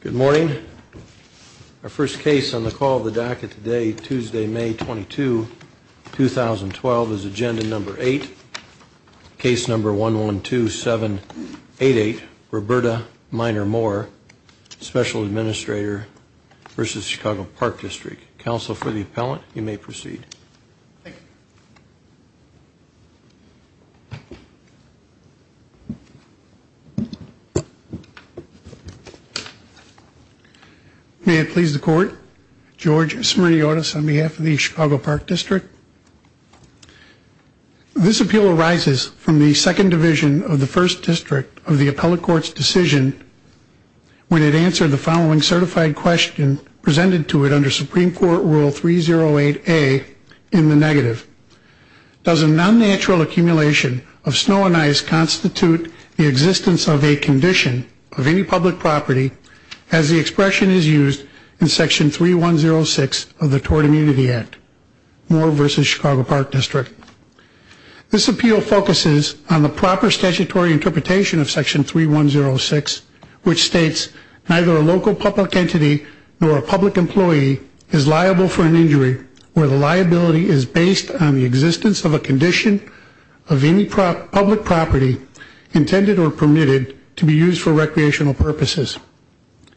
Good morning. Our first case on the call of the DACA today, Tuesday, May 22, 2012, is Agenda Number 8, Case Number 112788, Roberta Minor Moore, Special Administrator v. Chicago Park District. Counsel for the appellant, you may proceed. Thank you. May it please the Court, George Smirniotis on behalf of the Chicago Park District. This appeal arises from the Second Division of the First District of the Appellate Court's decision when it answered the following certified question presented to it under Supreme Court Rule 308A in the negative. Does a non-natural accumulation of snow and ice constitute the existence of a condition of any public property as the expression is used in Section 3106 of the Tort Immunity Act? Moore v. Chicago Park District. This appeal focuses on the proper statutory interpretation of Section 3106, which states neither a local public entity nor a public employee is liable for an injury where the liability is based on the existence of a condition of any public property intended or permitted to be used for recreational purposes.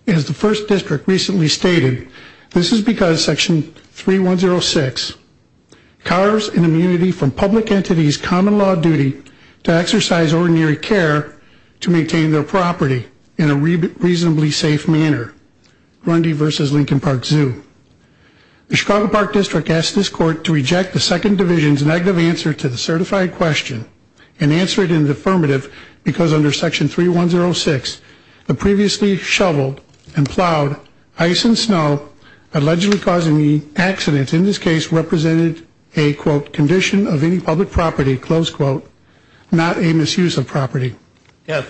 As the First District recently stated, this is because Section 3106 carves an immunity from public entities' common law duty to exercise ordinary care to maintain their property in a reasonably safe manner. Grundy v. Lincoln Park Zoo. The Chicago Park District asks this Court to reject the Second Division's negative answer to the certified question and answer it in the affirmative because under Section 3106, the previously shoveled and plowed ice and snow allegedly causing the accident in this case represented a, quote, condition of any public property, close quote, not a misuse of property. Yes,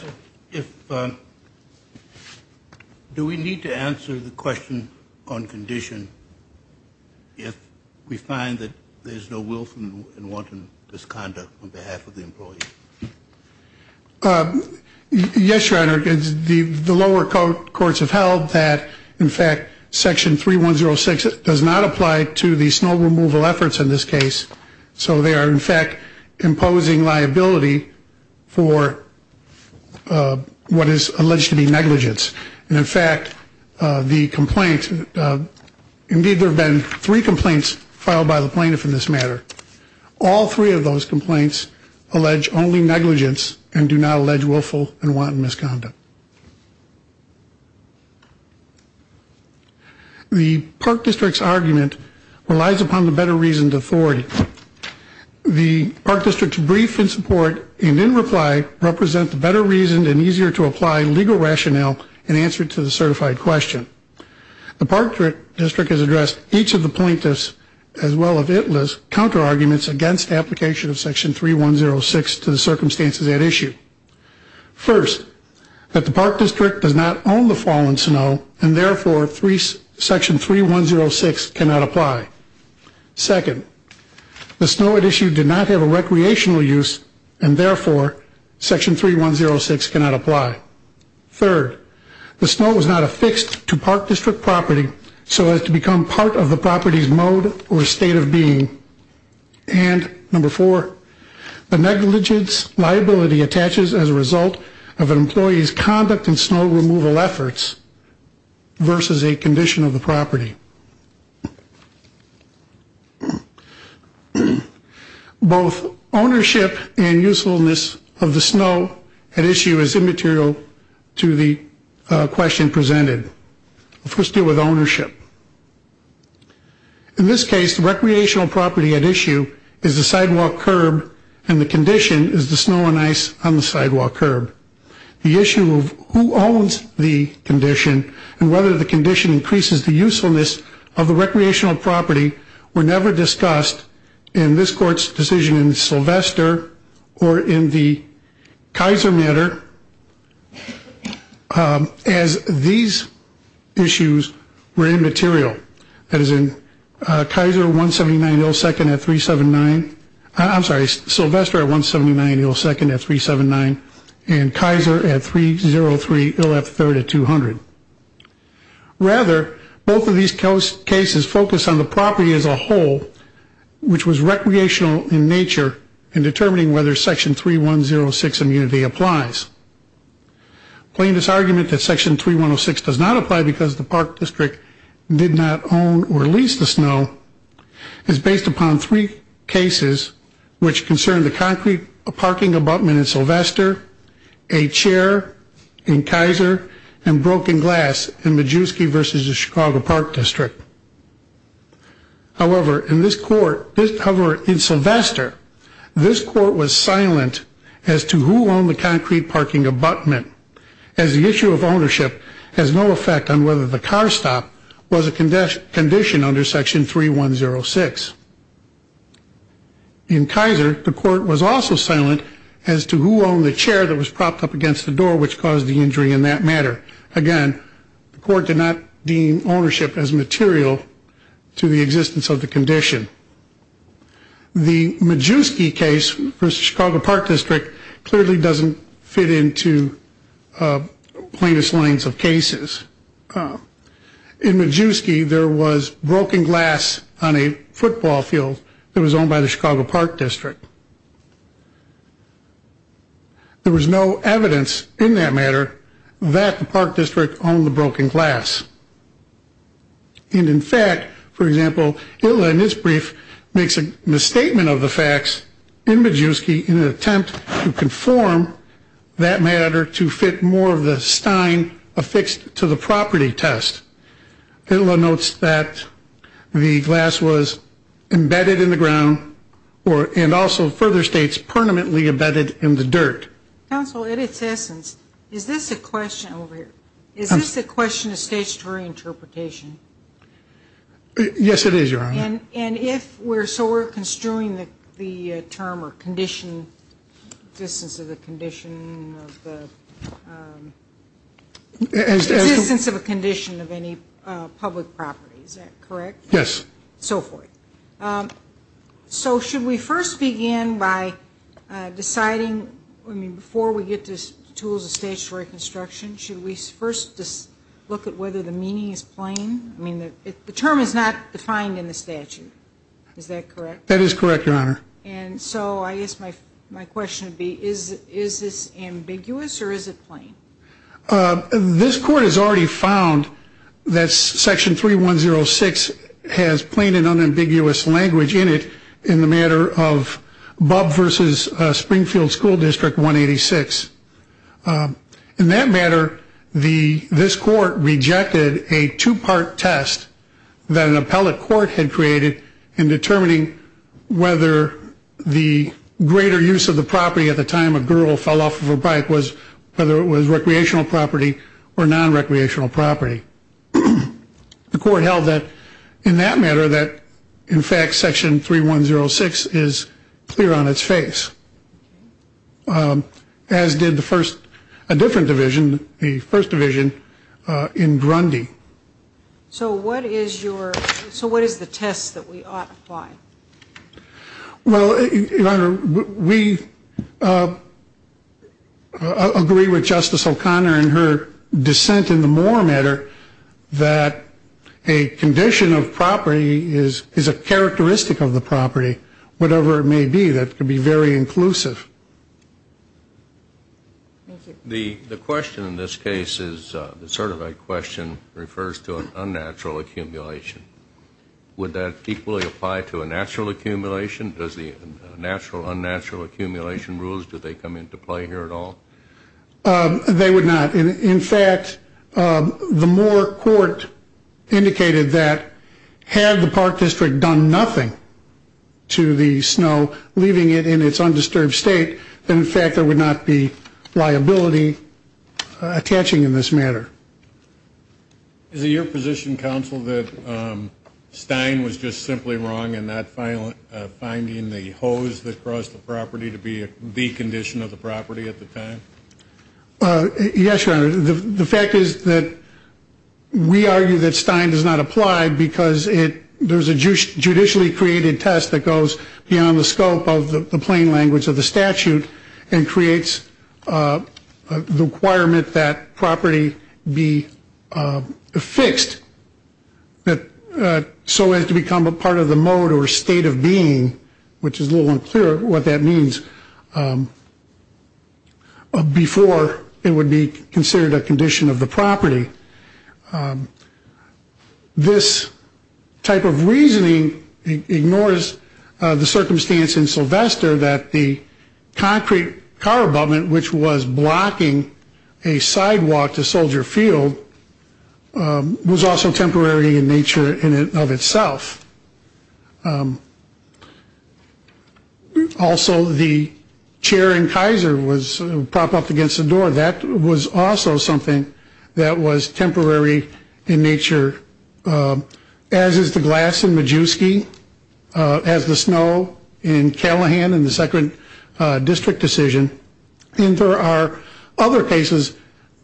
if, do we need to answer the question on condition if we find that there is no willful and wanton misconduct on behalf of the employee? Yes, Your Honor, the lower courts have held that, in fact, Section 3106 does not apply to the snow removal efforts in this case, so they are, in fact, imposing liability for what is alleged to be negligence. And, in fact, the complaint, indeed there have been three complaints filed by the plaintiff in this matter. All three of those complaints allege only negligence and do not allege willful and wanton misconduct. The Park District's argument relies upon the better reasoned authority. The Park District's brief in support and in reply represent the better reasoned and easier to apply legal rationale in answer to the certified question. The Park District has addressed each of the plaintiff's, as well as ITLA's, counterarguments against application of Section 3106 to the circumstances at issue. First, that the Park District does not own the fallen snow and, therefore, Section 3106 cannot apply. Second, the snow at issue did not have a recreational use and, therefore, Section 3106 cannot apply. Third, the snow was not affixed to Park District property so as to become part of the property's mode or state of being. And, number four, the negligence liability attaches as a result of an employee's conduct in snow removal efforts versus a condition of the property. Both ownership and usefulness of the snow at issue is immaterial to the question presented. Let's first deal with ownership. In this case, the recreational property at issue is the sidewalk curb and the condition is the snow and ice on the sidewalk curb. The issue of who owns the condition and whether the condition increases the usefulness of the recreational property were never discussed in this Court's decision in Sylvester or in the Kaiser matter as these issues were immaterial. Rather, both of these cases focused on the property as a whole, which was recreational in nature, and determining whether Section 3106 immunity applies. Plaintiffs' argument that Section 3106 does not apply because the Park District did not own the fallen snow or lease the snow is based upon three cases which concern the concrete parking abutment in Sylvester, a chair in Kaiser, and broken glass in Majewski versus the Chicago Park District. However, in Sylvester, this Court was silent as to who owned the concrete parking abutment as the issue of ownership has no effect on whether the car stop was a condition under Section 3106. In Kaiser, the Court was also silent as to who owned the chair that was propped up against the door, which caused the injury in that matter. Again, the Court did not deem ownership as material to the existence of the condition. The Majewski case versus the Chicago Park District clearly doesn't fit into plaintiff's lines of cases. In Majewski, there was broken glass on a football field that was owned by the Chicago Park District. There was no evidence in that matter that the Park District owned the broken glass. And in fact, for example, Itla in his brief makes a misstatement of the facts in Majewski in an attempt to conform that matter to fit more of the stein affixed to the property test. Itla notes that the glass was embedded in the ground and also further states permanently embedded in the dirt. Counsel, in its essence, is this a question of statutory interpretation? Yes, it is, Your Honor. And so we're construing the term or existence of a condition of any public property, is that correct? Yes. So forth. So should we first begin by deciding, I mean, before we get to tools of statutory construction, should we first look at whether the meaning is plain? I mean, the term is not defined in the statute, is that correct? That is correct, Your Honor. And so I guess my question would be, is this ambiguous or is it plain? This court has already found that Section 3106 has plain and unambiguous language in it in the matter of Bub versus Springfield School District 186. In that matter, this court rejected a two-part test that an appellate court had created in determining whether the greater use of the property at the time a girl fell off of a bike was whether it was recreational property or nonrecreational property. The court held that in that matter that, in fact, Section 3106 is clear on its face, as did the first, a different division, the first division in Grundy. So what is your, so what is the test that we ought to apply? Well, Your Honor, we agree with Justice O'Connor in her dissent in the Moore matter that a condition of property is a characteristic of the property, whatever it may be, that could be very inclusive. The question in this case is, the certified question refers to an unnatural accumulation. Would that equally apply to a natural accumulation? Does the natural, unnatural accumulation rules, do they come into play here at all? They would not. In fact, the Moore court indicated that had the Park District done nothing to the snow, leaving it in its undisturbed state, then in fact there would not be liability attaching in this matter. Is it your position, Counsel, that Stein was just simply wrong in not finding the hose that crossed the property to be the condition of the property at the time? Yes, Your Honor. The fact is that we argue that Stein does not apply because it, there's a judicially created test that goes beyond the scope of the plain language of the statute and creates the requirement that property be fixed so as to become a part of the mode or state of being, which is a little unclear what that means, before it would be considered a condition of the property. This type of reasoning ignores the circumstance in Sylvester that the concrete car abutment, which was blocking a sidewalk to Soldier Field, was also temporary in nature of itself. Also, the chair in Kaiser was propped up against the door. That was also something that was temporary in nature, as is the glass in Majewski, as the snow in Callahan in the second district decision, and there are other cases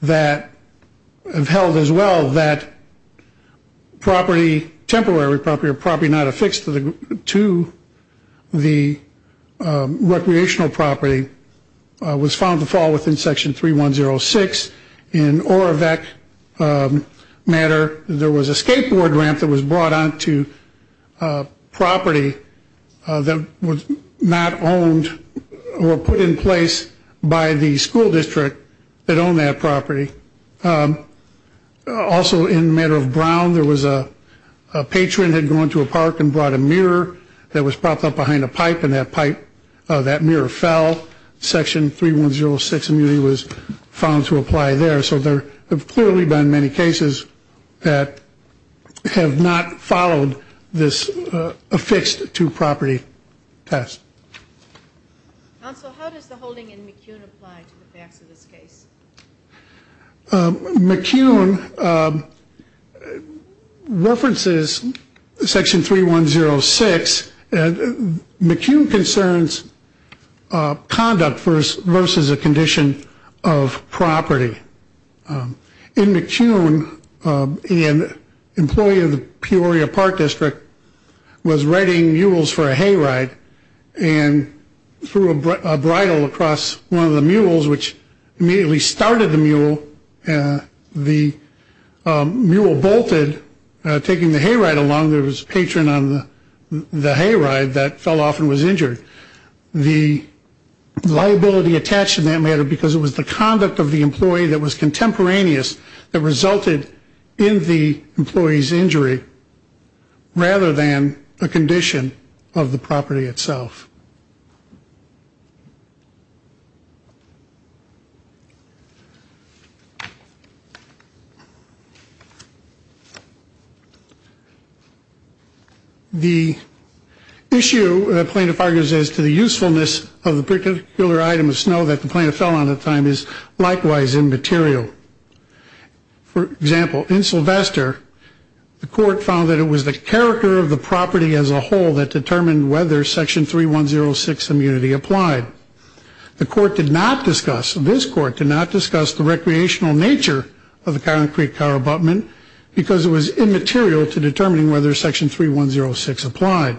that have held as well that property, temporary property or property not affixed to the recreational property, was found to fall within Section 3106. In Orevec matter, there was a skateboard ramp that was brought onto property that was not owned or put in place by the school district that owned that property. Also, in the matter of Brown, there was a patron had gone to a park and brought a mirror that was propped up behind a pipe, and that mirror fell. Section 3106 was found to apply there, so there have clearly been many cases that have not followed this affixed-to-property test. Counsel, how does the holding in McCune apply to the facts of this case? McCune references Section 3106, and McCune concerns conduct versus a condition of property. In McCune, an employee of the Peoria Park District was riding mules for a hayride and threw a bridle across one of the mules, which immediately started the mule. The mule bolted, taking the hayride along. There was a patron on the hayride that fell off and was injured. The liability attached in that matter because it was the conduct of the employee that was contemporaneous that resulted in the employee's injury rather than a condition of the property itself. The issue plaintiff argues is to the usefulness of the particular item of snow that the plaintiff fell on at the time is likewise immaterial. For example, in Sylvester, the court found that it was the character of the property as a whole that determined whether Section 3106 immunity applied. The court did not discuss, this court did not discuss the recreational nature of the concrete car abutment because it was immaterial to determining whether Section 3106 applied.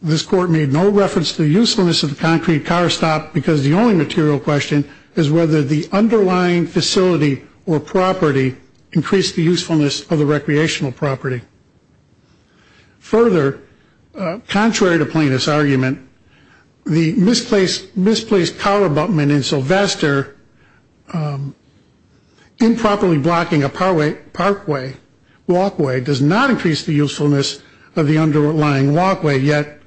This court made no reference to the usefulness of the concrete car stop because the only material question is whether the underlying facility or property increased the usefulness of the recreational property. Further, contrary to plaintiff's argument, the misplaced car abutment in Sylvester improperly blocking a parkway, walkway, does not increase the usefulness of the underlying walkway, yet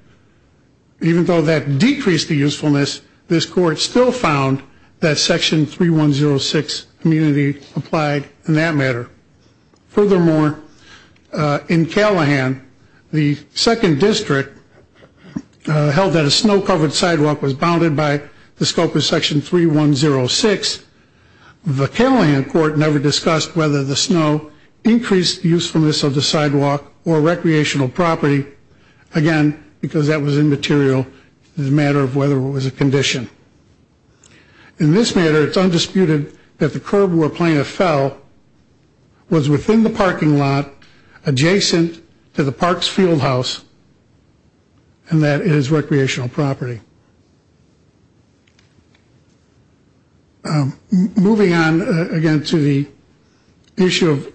even though that decreased the usefulness, this court still found that Section 3106 immunity applied in that matter. Furthermore, in Callahan, the second district held that a snow-covered sidewalk was bounded by the scope of Section 3106. The Callahan court never discussed whether the snow increased the usefulness of the sidewalk or recreational property. Again, because that was immaterial, it was a matter of whether it was a condition. In this matter, it's undisputed that the curb where plaintiff fell was within the parking lot adjacent to the park's fieldhouse and that it is recreational property. Moving on, again, to the issue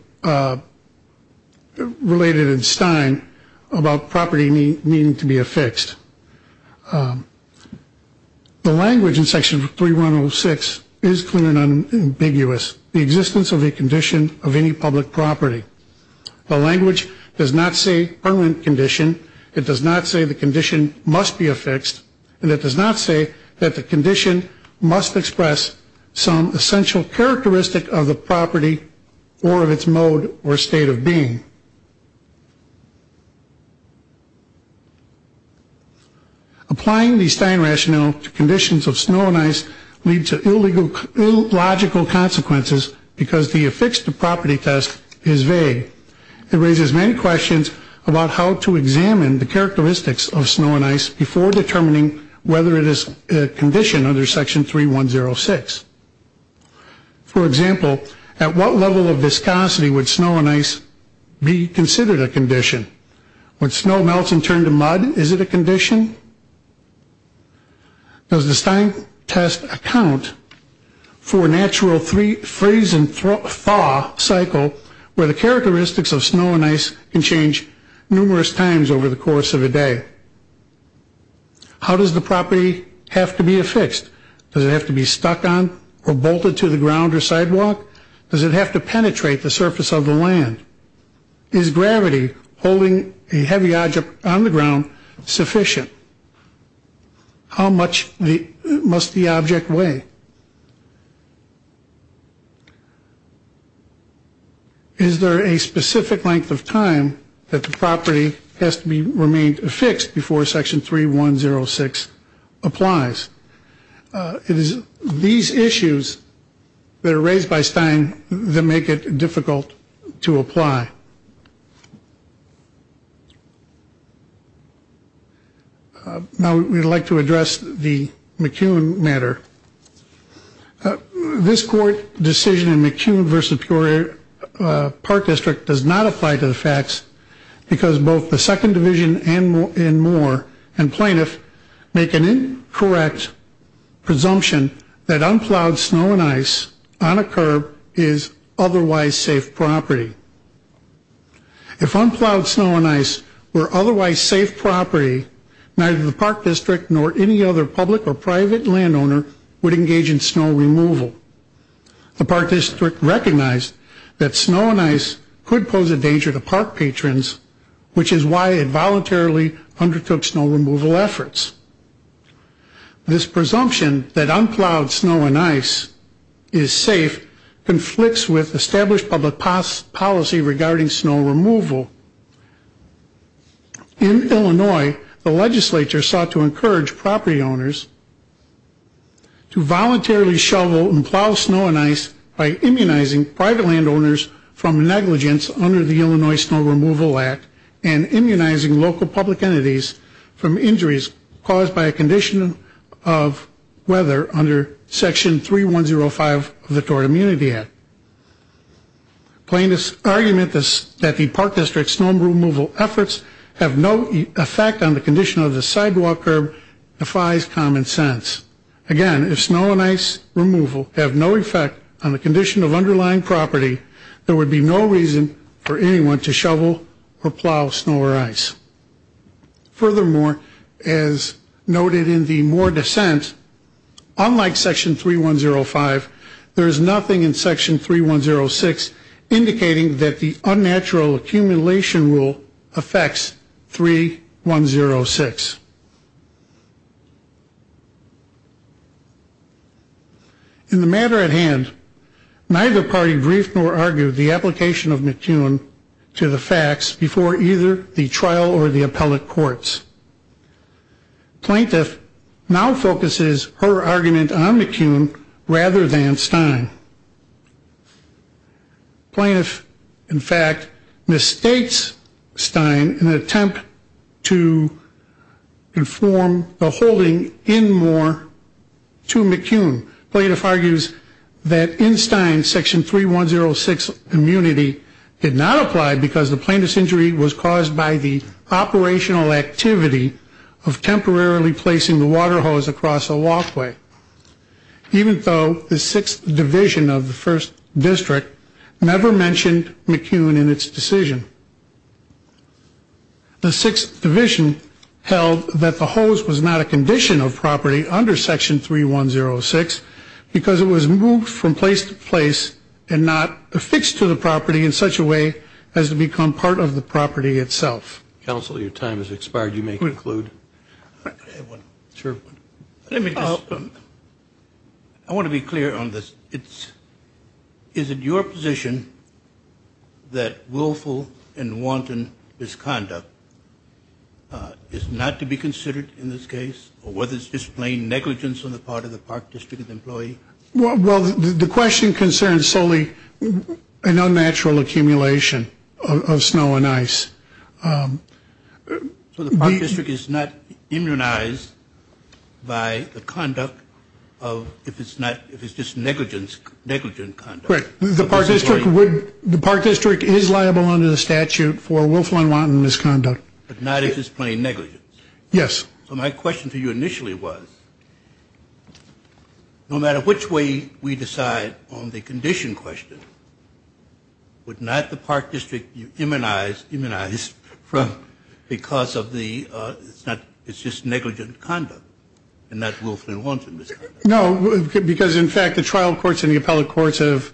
related in Stein about property needing to be affixed. The language in Section 3106 is clear and unambiguous, the existence of a condition of any public property. The language does not say permanent condition. It does not say the condition must be affixed. And it does not say that the condition must express some essential characteristic of the property or of its mode or state of being. Applying the Stein rationale to conditions of snow and ice leads to illogical consequences because the affixed property test is vague. It raises many questions about how to examine the characteristics of snow and ice before determining whether it is a condition under Section 3106. For example, at what level of viscosity would snow and ice be considered a condition? When snow melts and turns to mud, is it a condition? Does the Stein test account for a natural freeze and thaw cycle where the characteristics of snow and ice can change numerous times over the course of a day? How does the property have to be affixed? Does it have to be stuck on or bolted to the ground or sidewalk? Does it have to penetrate the surface of the land? Is gravity holding a heavy object on the ground sufficient? How much must the object weigh? Is there a specific length of time that the property has to remain affixed before Section 3106 applies? It is these issues that are raised by Stein that make it difficult to apply. Now we would like to address the McCune matter. This Court decision in McCune v. Peoria Park District does not apply to the facts because both the Second Division and Moore and Plaintiff make an incorrect presumption that unplowed snow and ice on a curb is otherwise safe property. If unplowed snow and ice were otherwise safe property, neither the Park District nor any other public or private landowner would engage in snow removal. The Park District recognized that snow and ice could pose a danger to park patrons, which is why it voluntarily undertook snow removal efforts. This presumption that unplowed snow and ice is safe conflicts with established public policy regarding snow removal. In Illinois, the legislature sought to encourage property owners to voluntarily shovel and plow snow and ice by immunizing private landowners from negligence under the Illinois Snow Removal Act and immunizing local public entities from injuries caused by a condition of weather under Section 3105 of the Tort Immunity Act. Plaintiff's argument that the Park District's snow removal efforts have no effect on the condition of the sidewalk curb defies common sense. Again, if snow and ice removal have no effect on the condition of underlying property, there would be no reason for anyone to shovel or plow snow or ice. Furthermore, as noted in the Moore dissent, unlike Section 3105, there is nothing in Section 3106 indicating that the unnatural accumulation rule affects 3106. In the matter at hand, neither party briefed nor argued the application of McCune to the facts before either the trial or the appellate courts. Plaintiff now focuses her argument on McCune rather than Stein. Plaintiff, in fact, misstates Stein in an attempt to inform the holding in Moore to McCune. Plaintiff argues that in Stein, Section 3106 immunity did not apply because the plaintiff's injury was caused by the operational activity of temporarily placing the water hose across a walkway. Even though the 6th Division of the 1st District never mentioned McCune in its decision. The 6th Division held that the hose was not a condition of property under Section 3106 because it was moved from place to place and not affixed to the property in such a way as to become part of the property itself. Counsel, your time has expired. You may conclude. I want to be clear on this. Is it your position that willful and wanton misconduct is not to be considered in this case, or whether it's just plain negligence on the part of the Park District employee? Well, the question concerns solely an unnatural accumulation of snow and ice. So the Park District is not immunized by the conduct of, if it's not, if it's just negligence, negligent conduct. Right. The Park District would, the Park District is liable under the statute for willful and wanton misconduct. But not if it's plain negligence. Yes. So my question to you initially was, no matter which way we decide on the condition question, would not the Park District be immunized because of the, it's just negligent conduct and not willful and wanton misconduct? No, because in fact the trial courts and the appellate courts have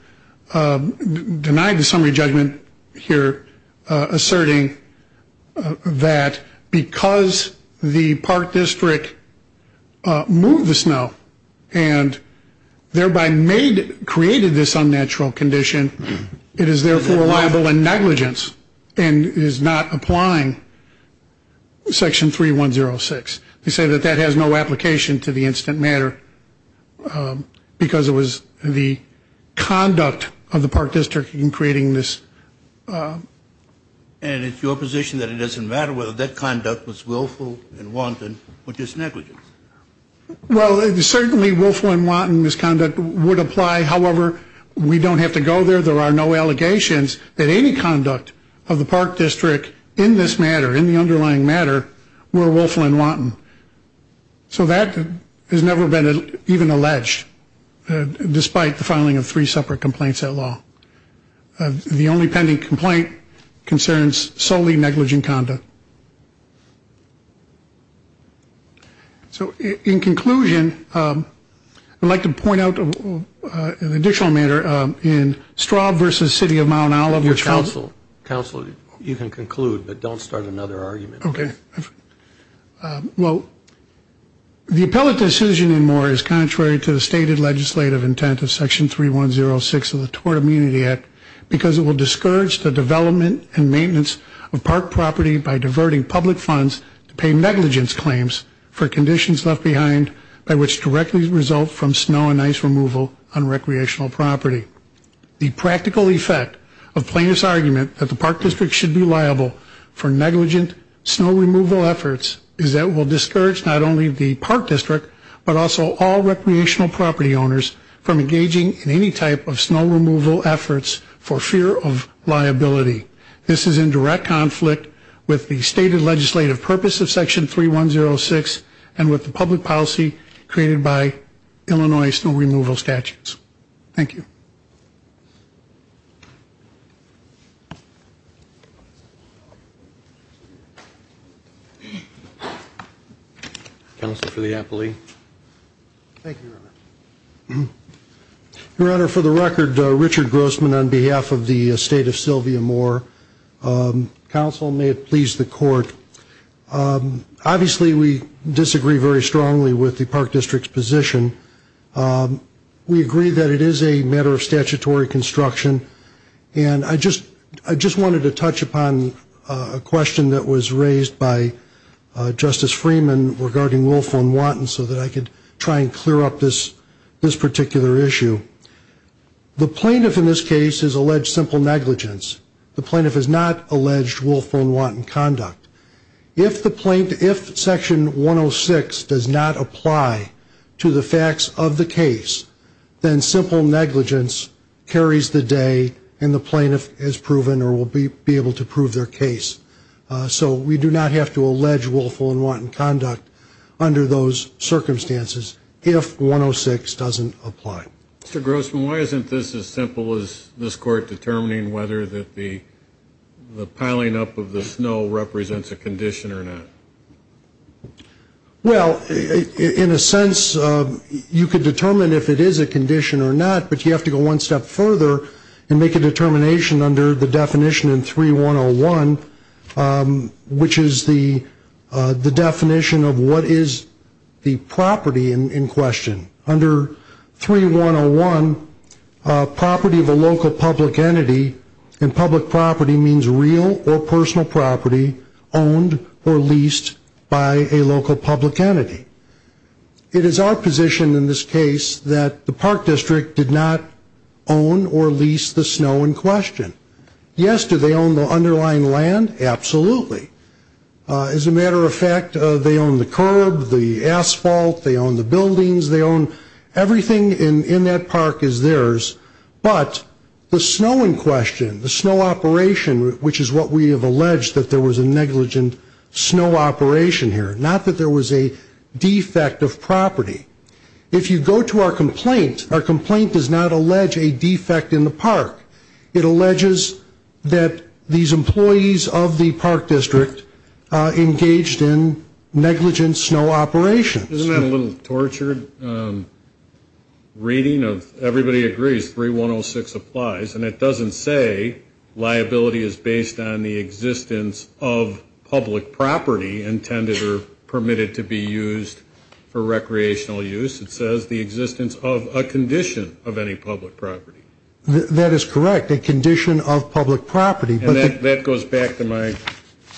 denied the summary judgment here, asserting that because the Park District moved the snow and thereby made, created this unnatural condition, it is therefore liable in negligence and is not applying Section 3106. They say that that has no application to the incident matter because it was the conduct of the Park District in creating this. And it's your position that it doesn't matter whether that conduct was willful and wanton, or just negligence? Well, certainly willful and wanton misconduct would apply. However, we don't have to go there. There are no allegations that any conduct of the Park District in this matter, in the underlying matter, were willful and wanton. So that has never been even alleged, despite the filing of three separate complaints at law. The only pending complaint concerns solely negligent conduct. So in conclusion, I'd like to point out an additional matter in Straub v. City of Mount Oliver. Counsel, counsel, you can conclude, but don't start another argument. Okay. Well, the appellate decision in Moore is contrary to the stated legislative intent of Section 3106 of the Tort Immunity Act because it will discourage the development and maintenance of park property by diverting public funds to pay negligence claims for conditions left behind by which directly result from snow and ice removal on recreational property. The practical effect of plaintiff's argument that the Park District should be liable for negligent snow removal efforts is that it will discourage not only the Park District, but also all recreational property owners from engaging in any type of snow removal efforts for fear of liability. This is in direct conflict with the stated legislative purpose of Section 3106 and with the public policy created by Illinois snow removal statutes. Thank you. Counsel for the appellee. Thank you, Your Honor. Your Honor, for the record, Richard Grossman on behalf of the state of Sylvia Moore. Counsel, may it please the court. Obviously, we disagree very strongly with the Park District's position. We agree that it is a matter of statutory construction. And I just wanted to touch upon a question that was raised by Justice Freeman regarding willful and wanton so that I could try and clear up this particular issue. The plaintiff in this case has alleged simple negligence. The plaintiff has not alleged willful and wanton conduct. If the plaintiff, if Section 106 does not apply to the facts of the case, then simple negligence carries the day and the plaintiff is proven or will be able to prove their case. So we do not have to allege willful and wanton conduct under those circumstances if 106 doesn't apply. Mr. Grossman, why isn't this as simple as this court determining whether the piling up of the snow represents a condition or not? Well, in a sense, you could determine if it is a condition or not, but you have to go one step further and make a determination under the definition in 3101, which is the definition of what is the property in question. Under 3101, property of a local public entity and public property means real or personal property owned or leased by a local public entity. It is our position in this case that the Park District did not own or lease the snow in question. Yes, do they own the underlying land? Absolutely. As a matter of fact, they own the curb, the asphalt, they own the buildings, they own everything in that park is theirs, but the snow in question, the snow operation, which is what we have alleged that there was a negligent snow operation here, not that there was a defect of property. If you go to our complaint, our complaint does not allege a defect in the park. It alleges that these employees of the Park District engaged in negligent snow operations. Isn't that a little tortured reading of everybody agrees 3106 applies and it doesn't say liability is based on the existence of public property intended or permitted to be used for recreational use. It says the existence of a condition of any public property. That is correct. A condition of public property. And that goes back to my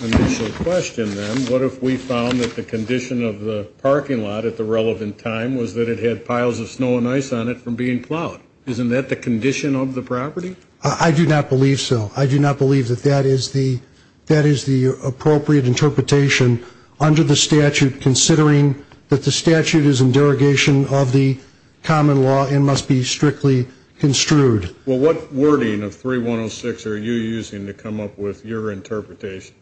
initial question then. What if we found that the condition of the parking lot at the relevant time was that it had piles of snow and ice on it from being plowed? Isn't that the condition of the property? I do not believe so. I do not believe that that is the appropriate interpretation under the statute considering that the statute is in derogation of the common law and must be strictly construed. Well, what wording of 3106 are you using to come up with your interpretation?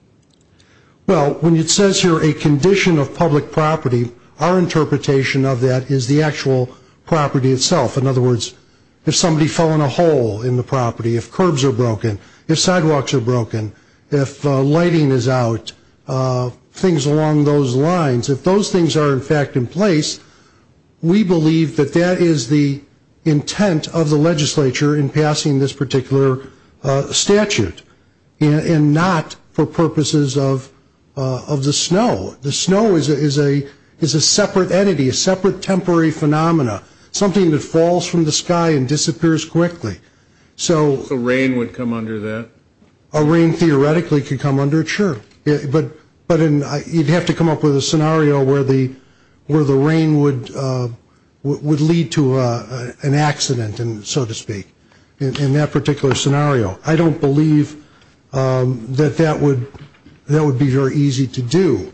Well, when it says here a condition of public property, our interpretation of that is the actual property itself. In other words, if somebody fell in a hole in the property, if curbs are broken, if sidewalks are broken, if lighting is out, things along those lines, if those things are in fact in place, we believe that that is the intent of the legislature in passing this particular statute. And not for purposes of the snow. The snow is a separate entity, a separate temporary phenomena, something that falls from the sky and disappears quickly. So rain would come under that? Rain theoretically could come under it, sure. But you would have to come up with a scenario where the rain would lead to an accident, so to speak, in that particular scenario. I do not believe that that would be very easy to do.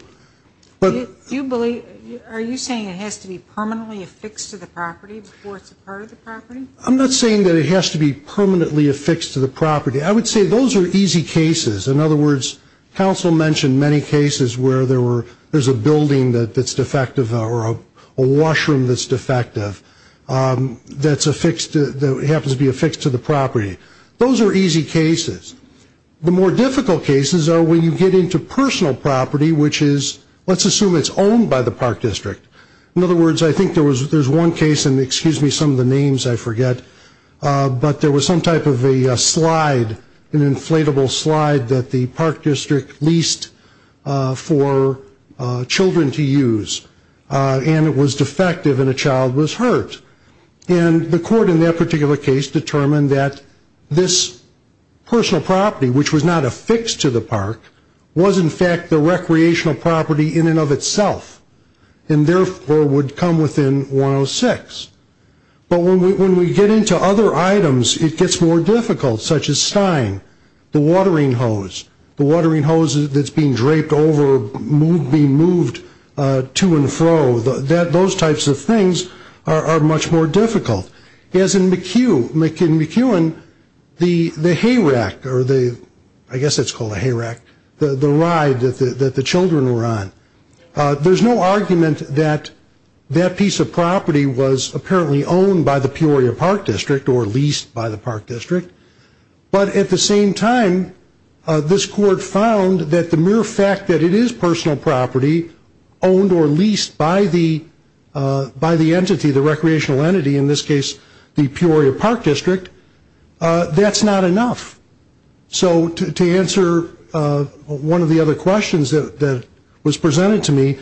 Are you saying it has to be permanently affixed to the property before it is a part of the property? I am not saying that it has to be permanently affixed to the property. I would say those are easy cases. In other words, council mentioned many cases where there is a building that is defective or a washroom that is defective that happens to be affixed to the property. Those are easy cases. The more difficult cases are when you get into personal property, which is, let's assume it is owned by the park district. In other words, I think there is one case, and excuse me, some of the names I forget, but there was some type of a slide, an inflatable slide that the park district leased for children to use, and it was defective and a child was hurt. And the court in that particular case determined that this personal property, which was not affixed to the park, was in fact the recreational property in and of itself, and therefore would come within 106. But when we get into other items, it gets more difficult, such as stying, the watering hose, the watering hose that is being draped over, being moved to and fro, those types of things are much more difficult. As in McEwen, the hay rack, I guess it is called a hay rack, the ride that the children were on, there is no argument that that piece of property was apparently owned by the Peoria Park District but at the same time, this court found that the mere fact that it is personal property owned or leased by the entity, the recreational entity, in this case the Peoria Park District, that is not enough. So to answer one of the other questions that was presented to me,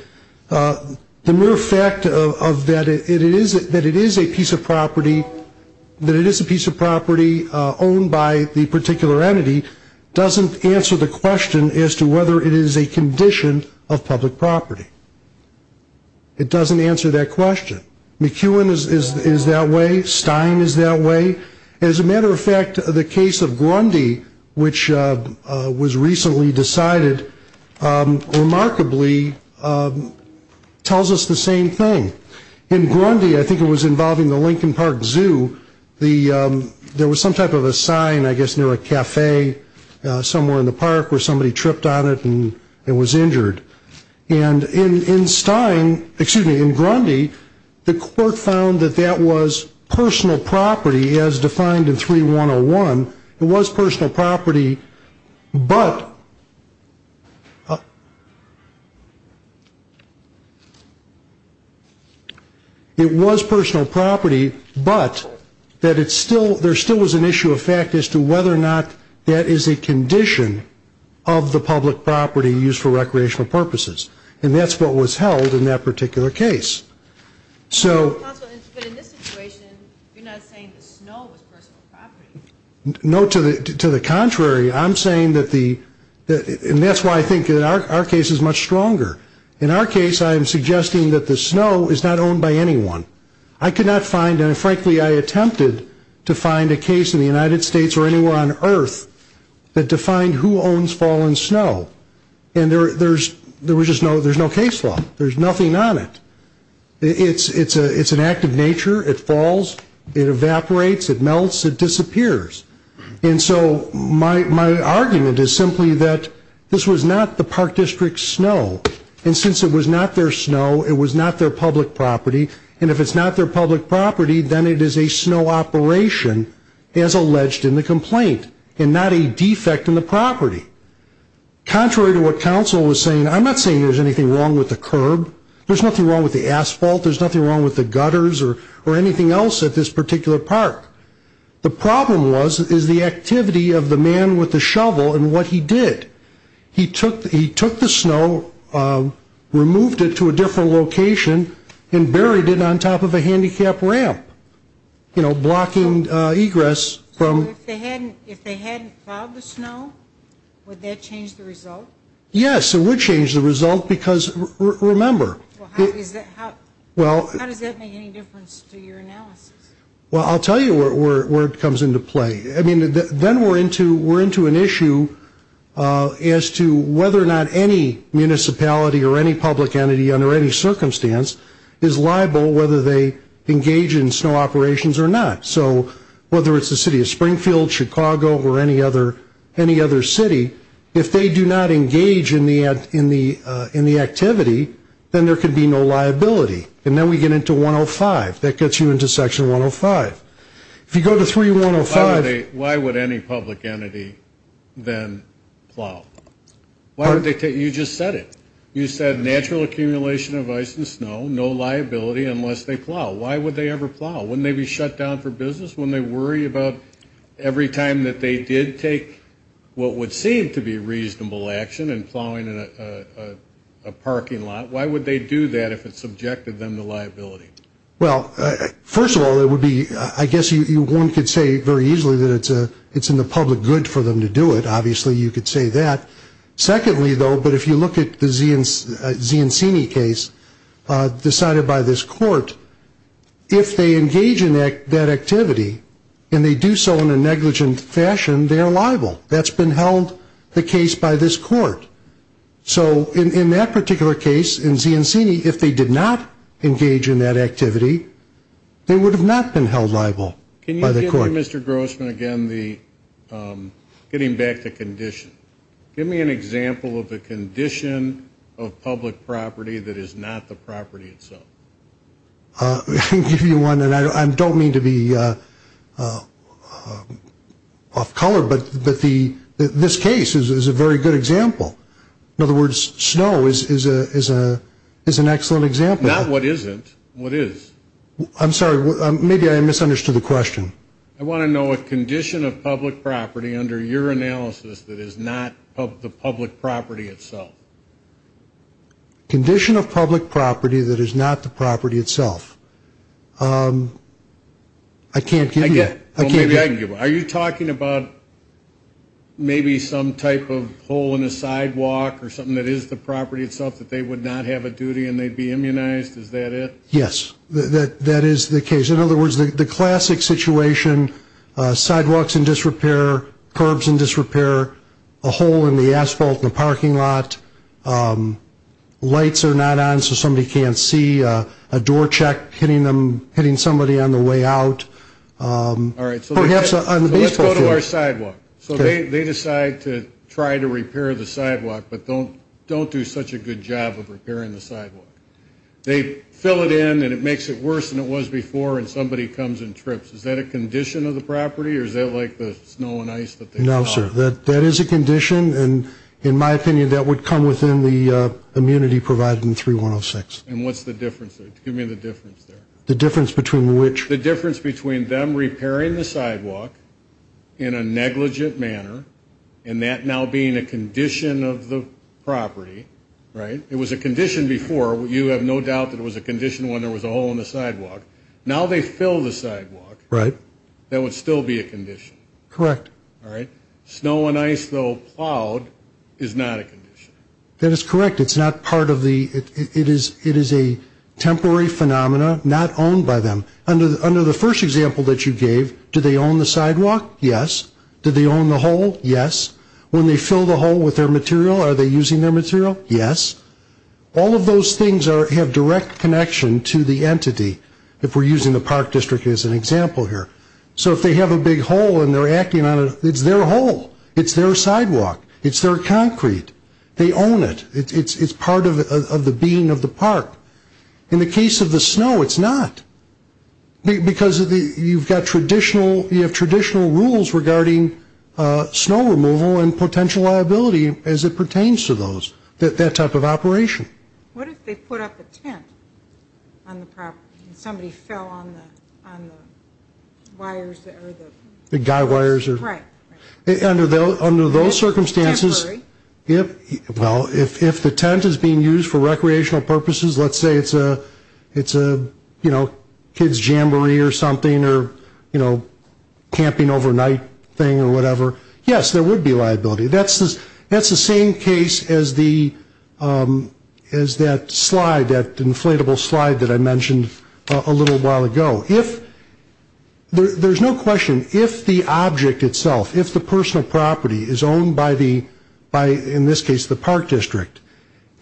the mere fact that it is a piece of property, that it is a piece of property owned by the particular entity, doesn't answer the question as to whether it is a condition of public property. It doesn't answer that question. McEwen is that way, Stein is that way. As a matter of fact, the case of Grundy, which was recently decided, remarkably tells us the same thing. In Grundy, I think it was involving the Lincoln Park Zoo, there was some type of a sign I guess near a cafe somewhere in the park where somebody tripped on it and was injured. And in Stein, excuse me, in Grundy, the court found that that was personal property as defined in 3101. It was personal property, but, it was personal property, but, that was an issue of fact as to whether or not that is a condition of the public property used for recreational purposes. And that's what was held in that particular case. So, no, to the contrary, I'm saying that the, and that's why I think our case is much stronger. In our case, I am suggesting that the snow is not owned by anyone. There's no case in the United States or anywhere on earth that defined who owns fallen snow. And there's, there's no case law. There's nothing on it. It's an act of nature. It falls, it evaporates, it melts, it disappears. And so, my argument is simply that this was not the park district's snow. And since it was not their snow, it was not their public property. And if it's not their public property, there's nothing as alleged in the complaint and not a defect in the property. Contrary to what counsel was saying, I'm not saying there's anything wrong with the curb. There's nothing wrong with the asphalt. There's nothing wrong with the gutters or anything else at this particular park. The problem was, is the activity of the man with the shovel and what he did. He took, he took the snow, removed it to a different location and buried it on top of the snow. So if they hadn't, if they hadn't plowed the snow, would that change the result? Yes, it would change the result because, remember. How does that make any difference to your analysis? Well, I'll tell you where it comes into play. I mean, then we're into, we're into an issue as to whether or not any municipality or any public entity under any circumstance whether it be a Springfield, Chicago or any other, any other city, if they do not engage in the activity, then there could be no liability. And then we get into 105. That gets you into section 105. If you go to 3105. Why would any public entity then plow? You just said it. You said natural accumulation of ice and snow, no liability unless they plow. Every time that they did take what would seem to be reasonable action in plowing a parking lot, why would they do that if it subjected them to liability? Well, first of all, it would be, I guess one could say very easily that it's in the public good for them to do it. Obviously, you could say that. Secondly, though, but if you look at the Ziancini case decided by this court, if they engage in that activity and they do so in a negligent fashion, they are liable. That's been held, the case by this court. So in that particular case, in Ziancini, if they did not engage in that activity, they would have not been held liable by the court. Can you give me, Mr. Grossman, again, getting back to condition. Give me an example of a condition of public property that is not the property itself. I can give you one, and I don't mean to be off color, but this case is a very good example. In other words, Not what isn't, what is. I'm sorry, maybe I misunderstood the question. I want to know a condition of public property under your analysis that is not the public property itself. Condition of public property that is not the property itself. I can't give you that. Are you talking about maybe some type of hole in the sidewalk or something that is the property itself that they would not have a duty and they'd be immunized? Is that it? Yes. That is the case. In other words, the classic situation sidewalks in disrepair, curbs in disrepair, a hole in the asphalt in the parking lot, lights are not on so somebody can't see, a door check hitting somebody on the way out, or perhaps on the baseball field. Let's go to our sidewalk. They decide to try to repair the sidewalk, but don't do such a good job of repairing the sidewalk. They fill it in and it makes it worse than it was before and somebody comes and trips. Is that a condition of the property or is that like the snow and ice that they saw? No, sir. That is a condition and in my opinion that would come within the immunity provided in 3106. And what's the difference? Give me the difference there. The difference between which? The difference between them repairing the sidewalk in a negligent manner and that now being a condition of the property. It was a condition before. You have no doubt that it was a condition when there was a hole in the sidewalk. Now they fill the sidewalk. Right. That would still be a condition. Correct. Alright. Snow and ice though plowed is not a condition. That is correct. It's not part of the it is a temporary phenomena not owned by them. Under the first example that you gave do they own the sidewalk? Yes. Do they own the hole? Yes. When they fill the hole with their material are they using their material? Yes. All of those things have direct connection to the entity if we're using the park district as an example here. So if they have a big hole and they're acting on it it's their hole. It's their sidewalk. It's their concrete. They own it. It's part of the being of the park. In the case of the snow it's not because you've got traditional you have traditional rules regarding snow removal and potential liability as it pertains to those that type of operation. What if they put up a tent on the property and somebody fell on the wires or the guy wires? Right. Under those circumstances if the tent is being used for recreational purposes let's say it's a you know kids jamboree or something or you know camping overnight thing or whatever yes there would be liability. That's the same case as the as that slide that inflatable slide that I mentioned a little while ago. There's no question if the object itself if the personal property is owned by the in this case the park district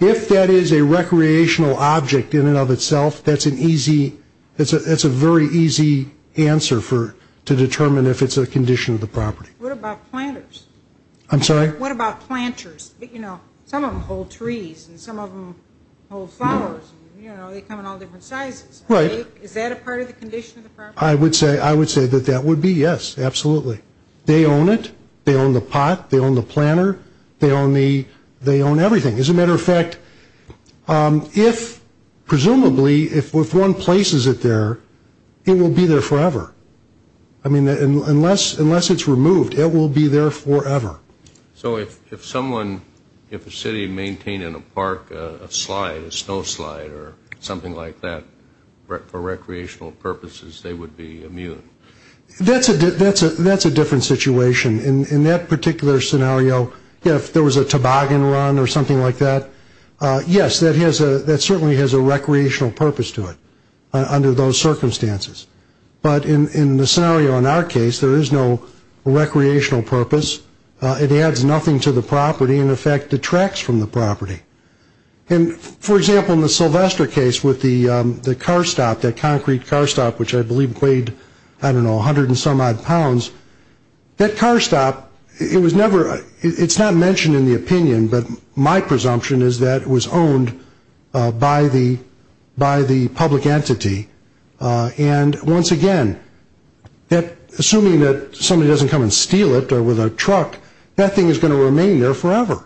if that is a recreational object in and of itself that's an easy that's a very easy answer to determine if it's a condition of the property. What about planters? I'm sorry? What about planters? You know some of them hold trees and some of them hold flowers and you know they come in all different sizes. Right. Is that a part of the condition of the property? If one places it there it will be there forever. I mean unless it's removed it will be there forever. So if someone if a city maintained in a park a slide a snow slide or something like that for recreational purposes they would be immune? That's a different situation. In that particular scenario if there was a toboggan run or something like that yes that certainly has a recreational purpose to it under those circumstances. But in the scenario in our case there is no recreational purpose. It adds nothing to the property and in fact detracts from the property. For example in the Sylvester case with the concrete car stop which I believe weighed 100 and some odd pounds that car stop it's not mentioned in the opinion but my presumption is that it was owned by the public entity and once again assuming that somebody doesn't come and steal it or with a truck that thing is going to remain there forever.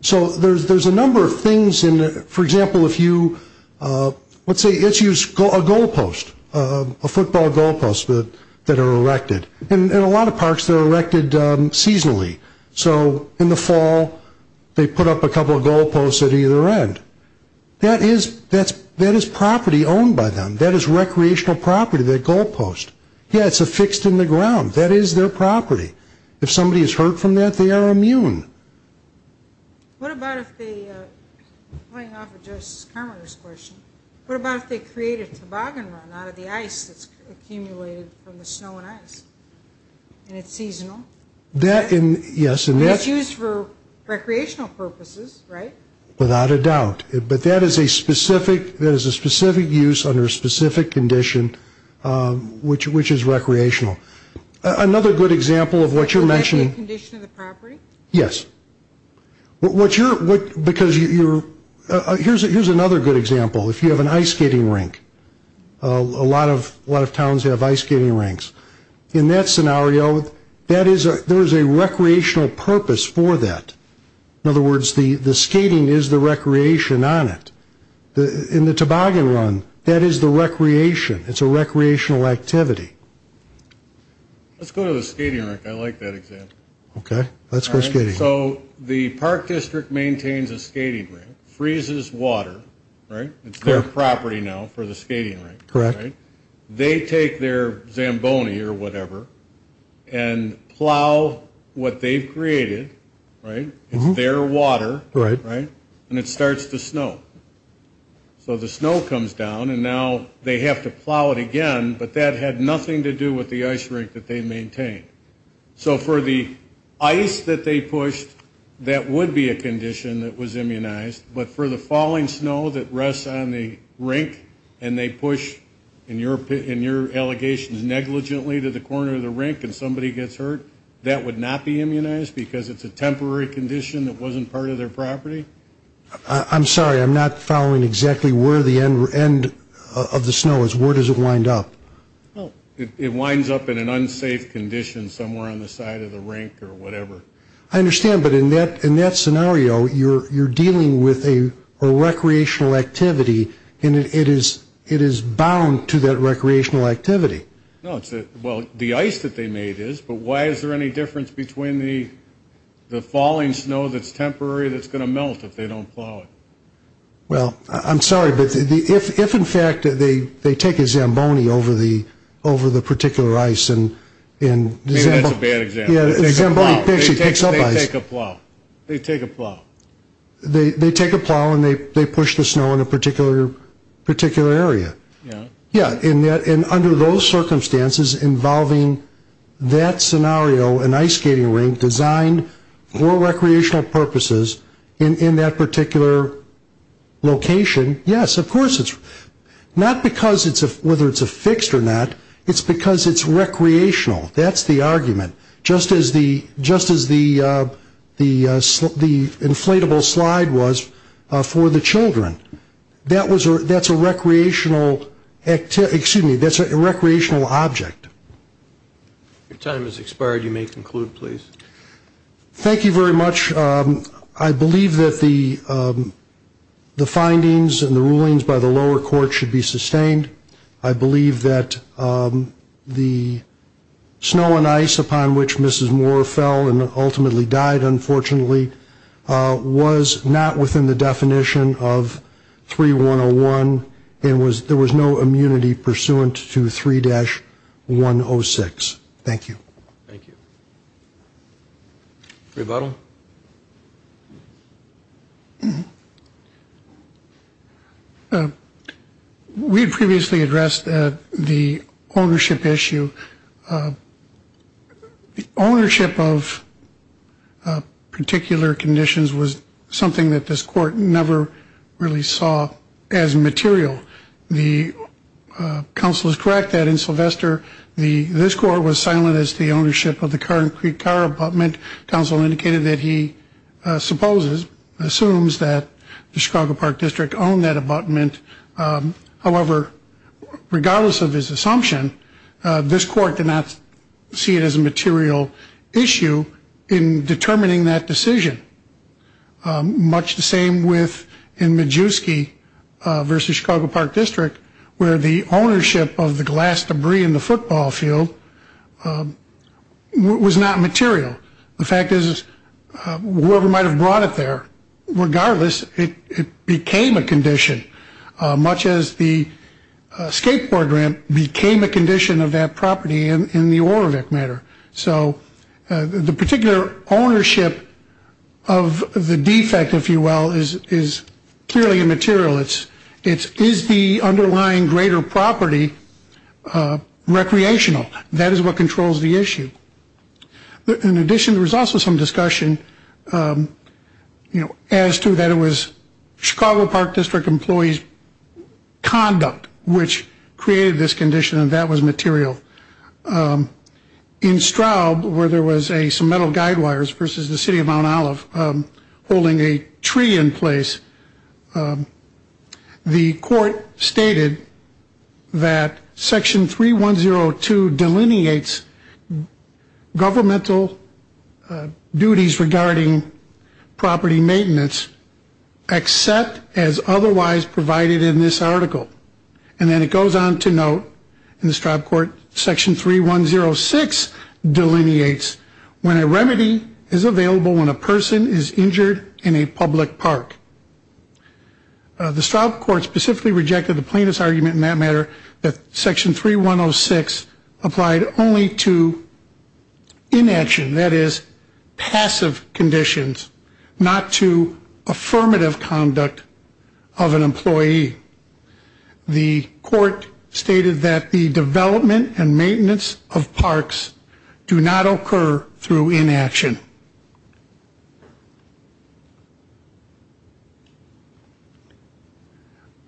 So there's a number of things for example if you let's say a goal post a football goal post that are erected and a lot of parks that are erected seasonally so in the fall they put up a couple of goal posts. Yeah it's affixed in the ground. That is their property. If somebody is hurt from that they are immune. What about if they create a toboggan run out of the ice that's accumulated from the snow and ice and it's seasonal? It's used for recreational purposes right? Without a doubt but that is a specific use under a goal post which is recreational. Another good example of what you're mentioning. Is that a condition of the property? Yes. Here's another good example if you have an ice skating rink. A lot of towns have ice skating rinks. In that scenario there is a recreational purpose for that. In other words the skating is the recreation on it. In the toboggan run that is the recreation. It's a recreational activity. Let's go to the skating rink. I like that example. So the park district maintains a skating rink, freezes water right? It's their property now for the skating rink. They take their Zamboni or whatever and plow what they've created. It's their water. And it starts to snow. So the snow comes down and now they have to plow it again but that had nothing to do with the ice rink that they maintained. So for the ice that they pushed that would be a condition that was immunized but for the falling snow that rests on the rink and they push in your allegations negligently to the corner of the rink and somebody gets hurt, that would not be immunized because it's a temporary condition that wasn't part of their property. I'm sorry, I'm not following exactly where the end of the snow is. Where does it wind up? It winds up in an unsafe condition somewhere on the side of the rink or whatever. I understand but in that scenario you're dealing with a recreational activity and it is bound to that recreational activity. Well, the ice that they made is but why is there any difference between the falling snow that's temporary that's going to melt if they don't plow it? Well, I'm sorry but if in fact they take a Zamboni over the particular ice and maybe that's a bad example. They take a plow. They take a plow. They take a plow and they push the snow in a particular area. And under those circumstances involving that scenario, an ice skating rink designed for recreational purposes in that particular location, yes of course it's not because it's whether it's a fixed or not, it's because it's temporary. That's the argument. Just as the inflatable slide was for the children. That's a recreational object. Your time has expired. You may conclude, please. Thank you very much. I believe that the findings and the rulings by the lower court should be sustained. I believe that the snow ice skating design should be sustained. The ownership of particular conditions was something that this court never really saw as material. The counsel is correct that in Sylvester this court was silent as the ownership of the concrete car abutment. Counsel indicated that supposes, assumes that the Chicago Park District owned that abutment. However, regardless of his assumption, this court did not see it as a material issue in determining that decision. Much the same with in Majewski versus Chicago Park District where the ownership abutment was a material issue. In addition, whoever might have brought it there, regardless, it became a condition much as the skateboard ramp became a condition of that property. The particular ownership of the skateboard of that property. In addition, there was a discussion as to that it was Chicago Park District employees conduct which created this condition and that was material. In Straub where there was some metal guide wires versus the City of Mount Olive holding a tree in place, the court stated that section 3102 delineates governmental duties regarding property maintenance except as otherwise provided in this article. And then it goes on to state that the court section 3106 delineates when a remedy is available when a person is injured in a public park. The Straub court specifically rejected the plaintiff's argument in that matter that section 3106 applied only to inaction, that is, passive conditions, not to affirmative conduct of an employee. The court stated that the development and maintenance of parks do not occur through inaction.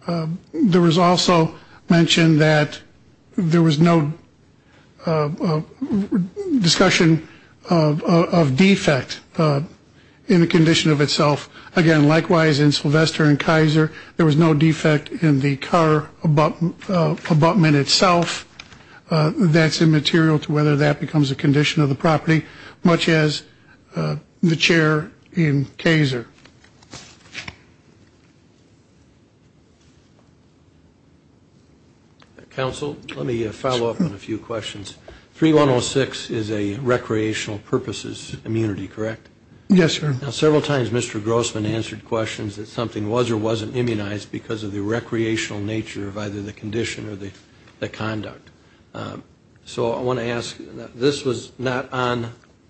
There was also mentioned that there was no discussion of defect in the condition of itself. Again, likewise in section 3106 there was no defect in the car abutment itself. That's immaterial to whether that becomes a condition of the property, much as the chair in Kaiser. Counsel, let me follow up on a few questions. 3106 is a recreational purposes immunity, correct? Several times Mr. Grossman answered questions that something was or wasn't immunized because of the recreational nature of either the condition or the conduct. So I want to ask, this was not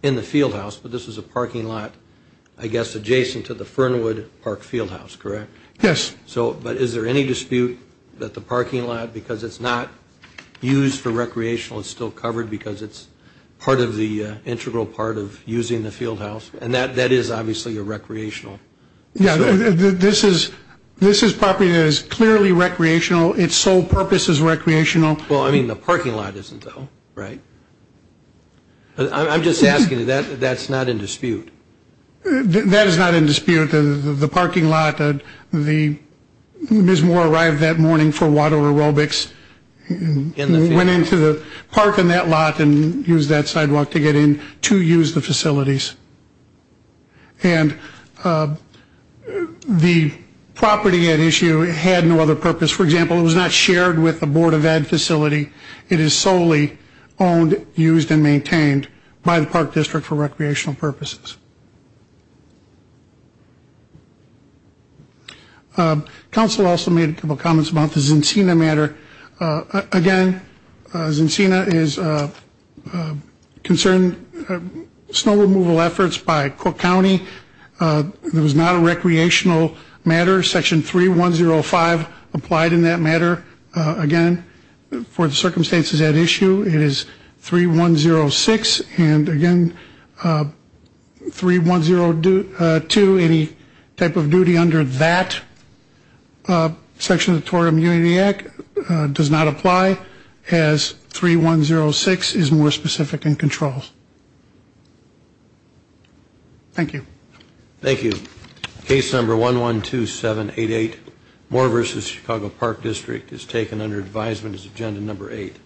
in the fieldhouse, but this was a parking lot I guess adjacent to the Fernwood Park fieldhouse, correct? Is there any dispute that the parking lot not used for recreational is still covered because it's part of the integral part of using the fieldhouse? That is obviously a recreational property. That is clearly recreational. It's sole purpose is recreational. The parking lot isn't though, right? I'm just asking, that's not in dispute? That is not in dispute. The parking lot, Ms. Moore arrived that morning for water aerobics and went into the park and that lot and used that sidewalk to get in to use the facilities. And the property at issue had no other purpose. For example, it was not shared with the Board of Ed facility. It is solely owned, used, and maintained by the Park District for recreational purposes. Council also made a couple of comments about the Zincina matter. Again, Zincina is concerned snow removal efforts by Cook County. It was not a recreational matter. Section 3105 applied in that matter. Again, for the circumstances at issue, it is 3106. And again, 3102, any type of duty under that section of the Tory Immunity Act does not apply as 3106 is more specific in control. Thank you. Thank you. Case number 112788, Moore v. Chicago Park District is taken under advisement as agenda number 8.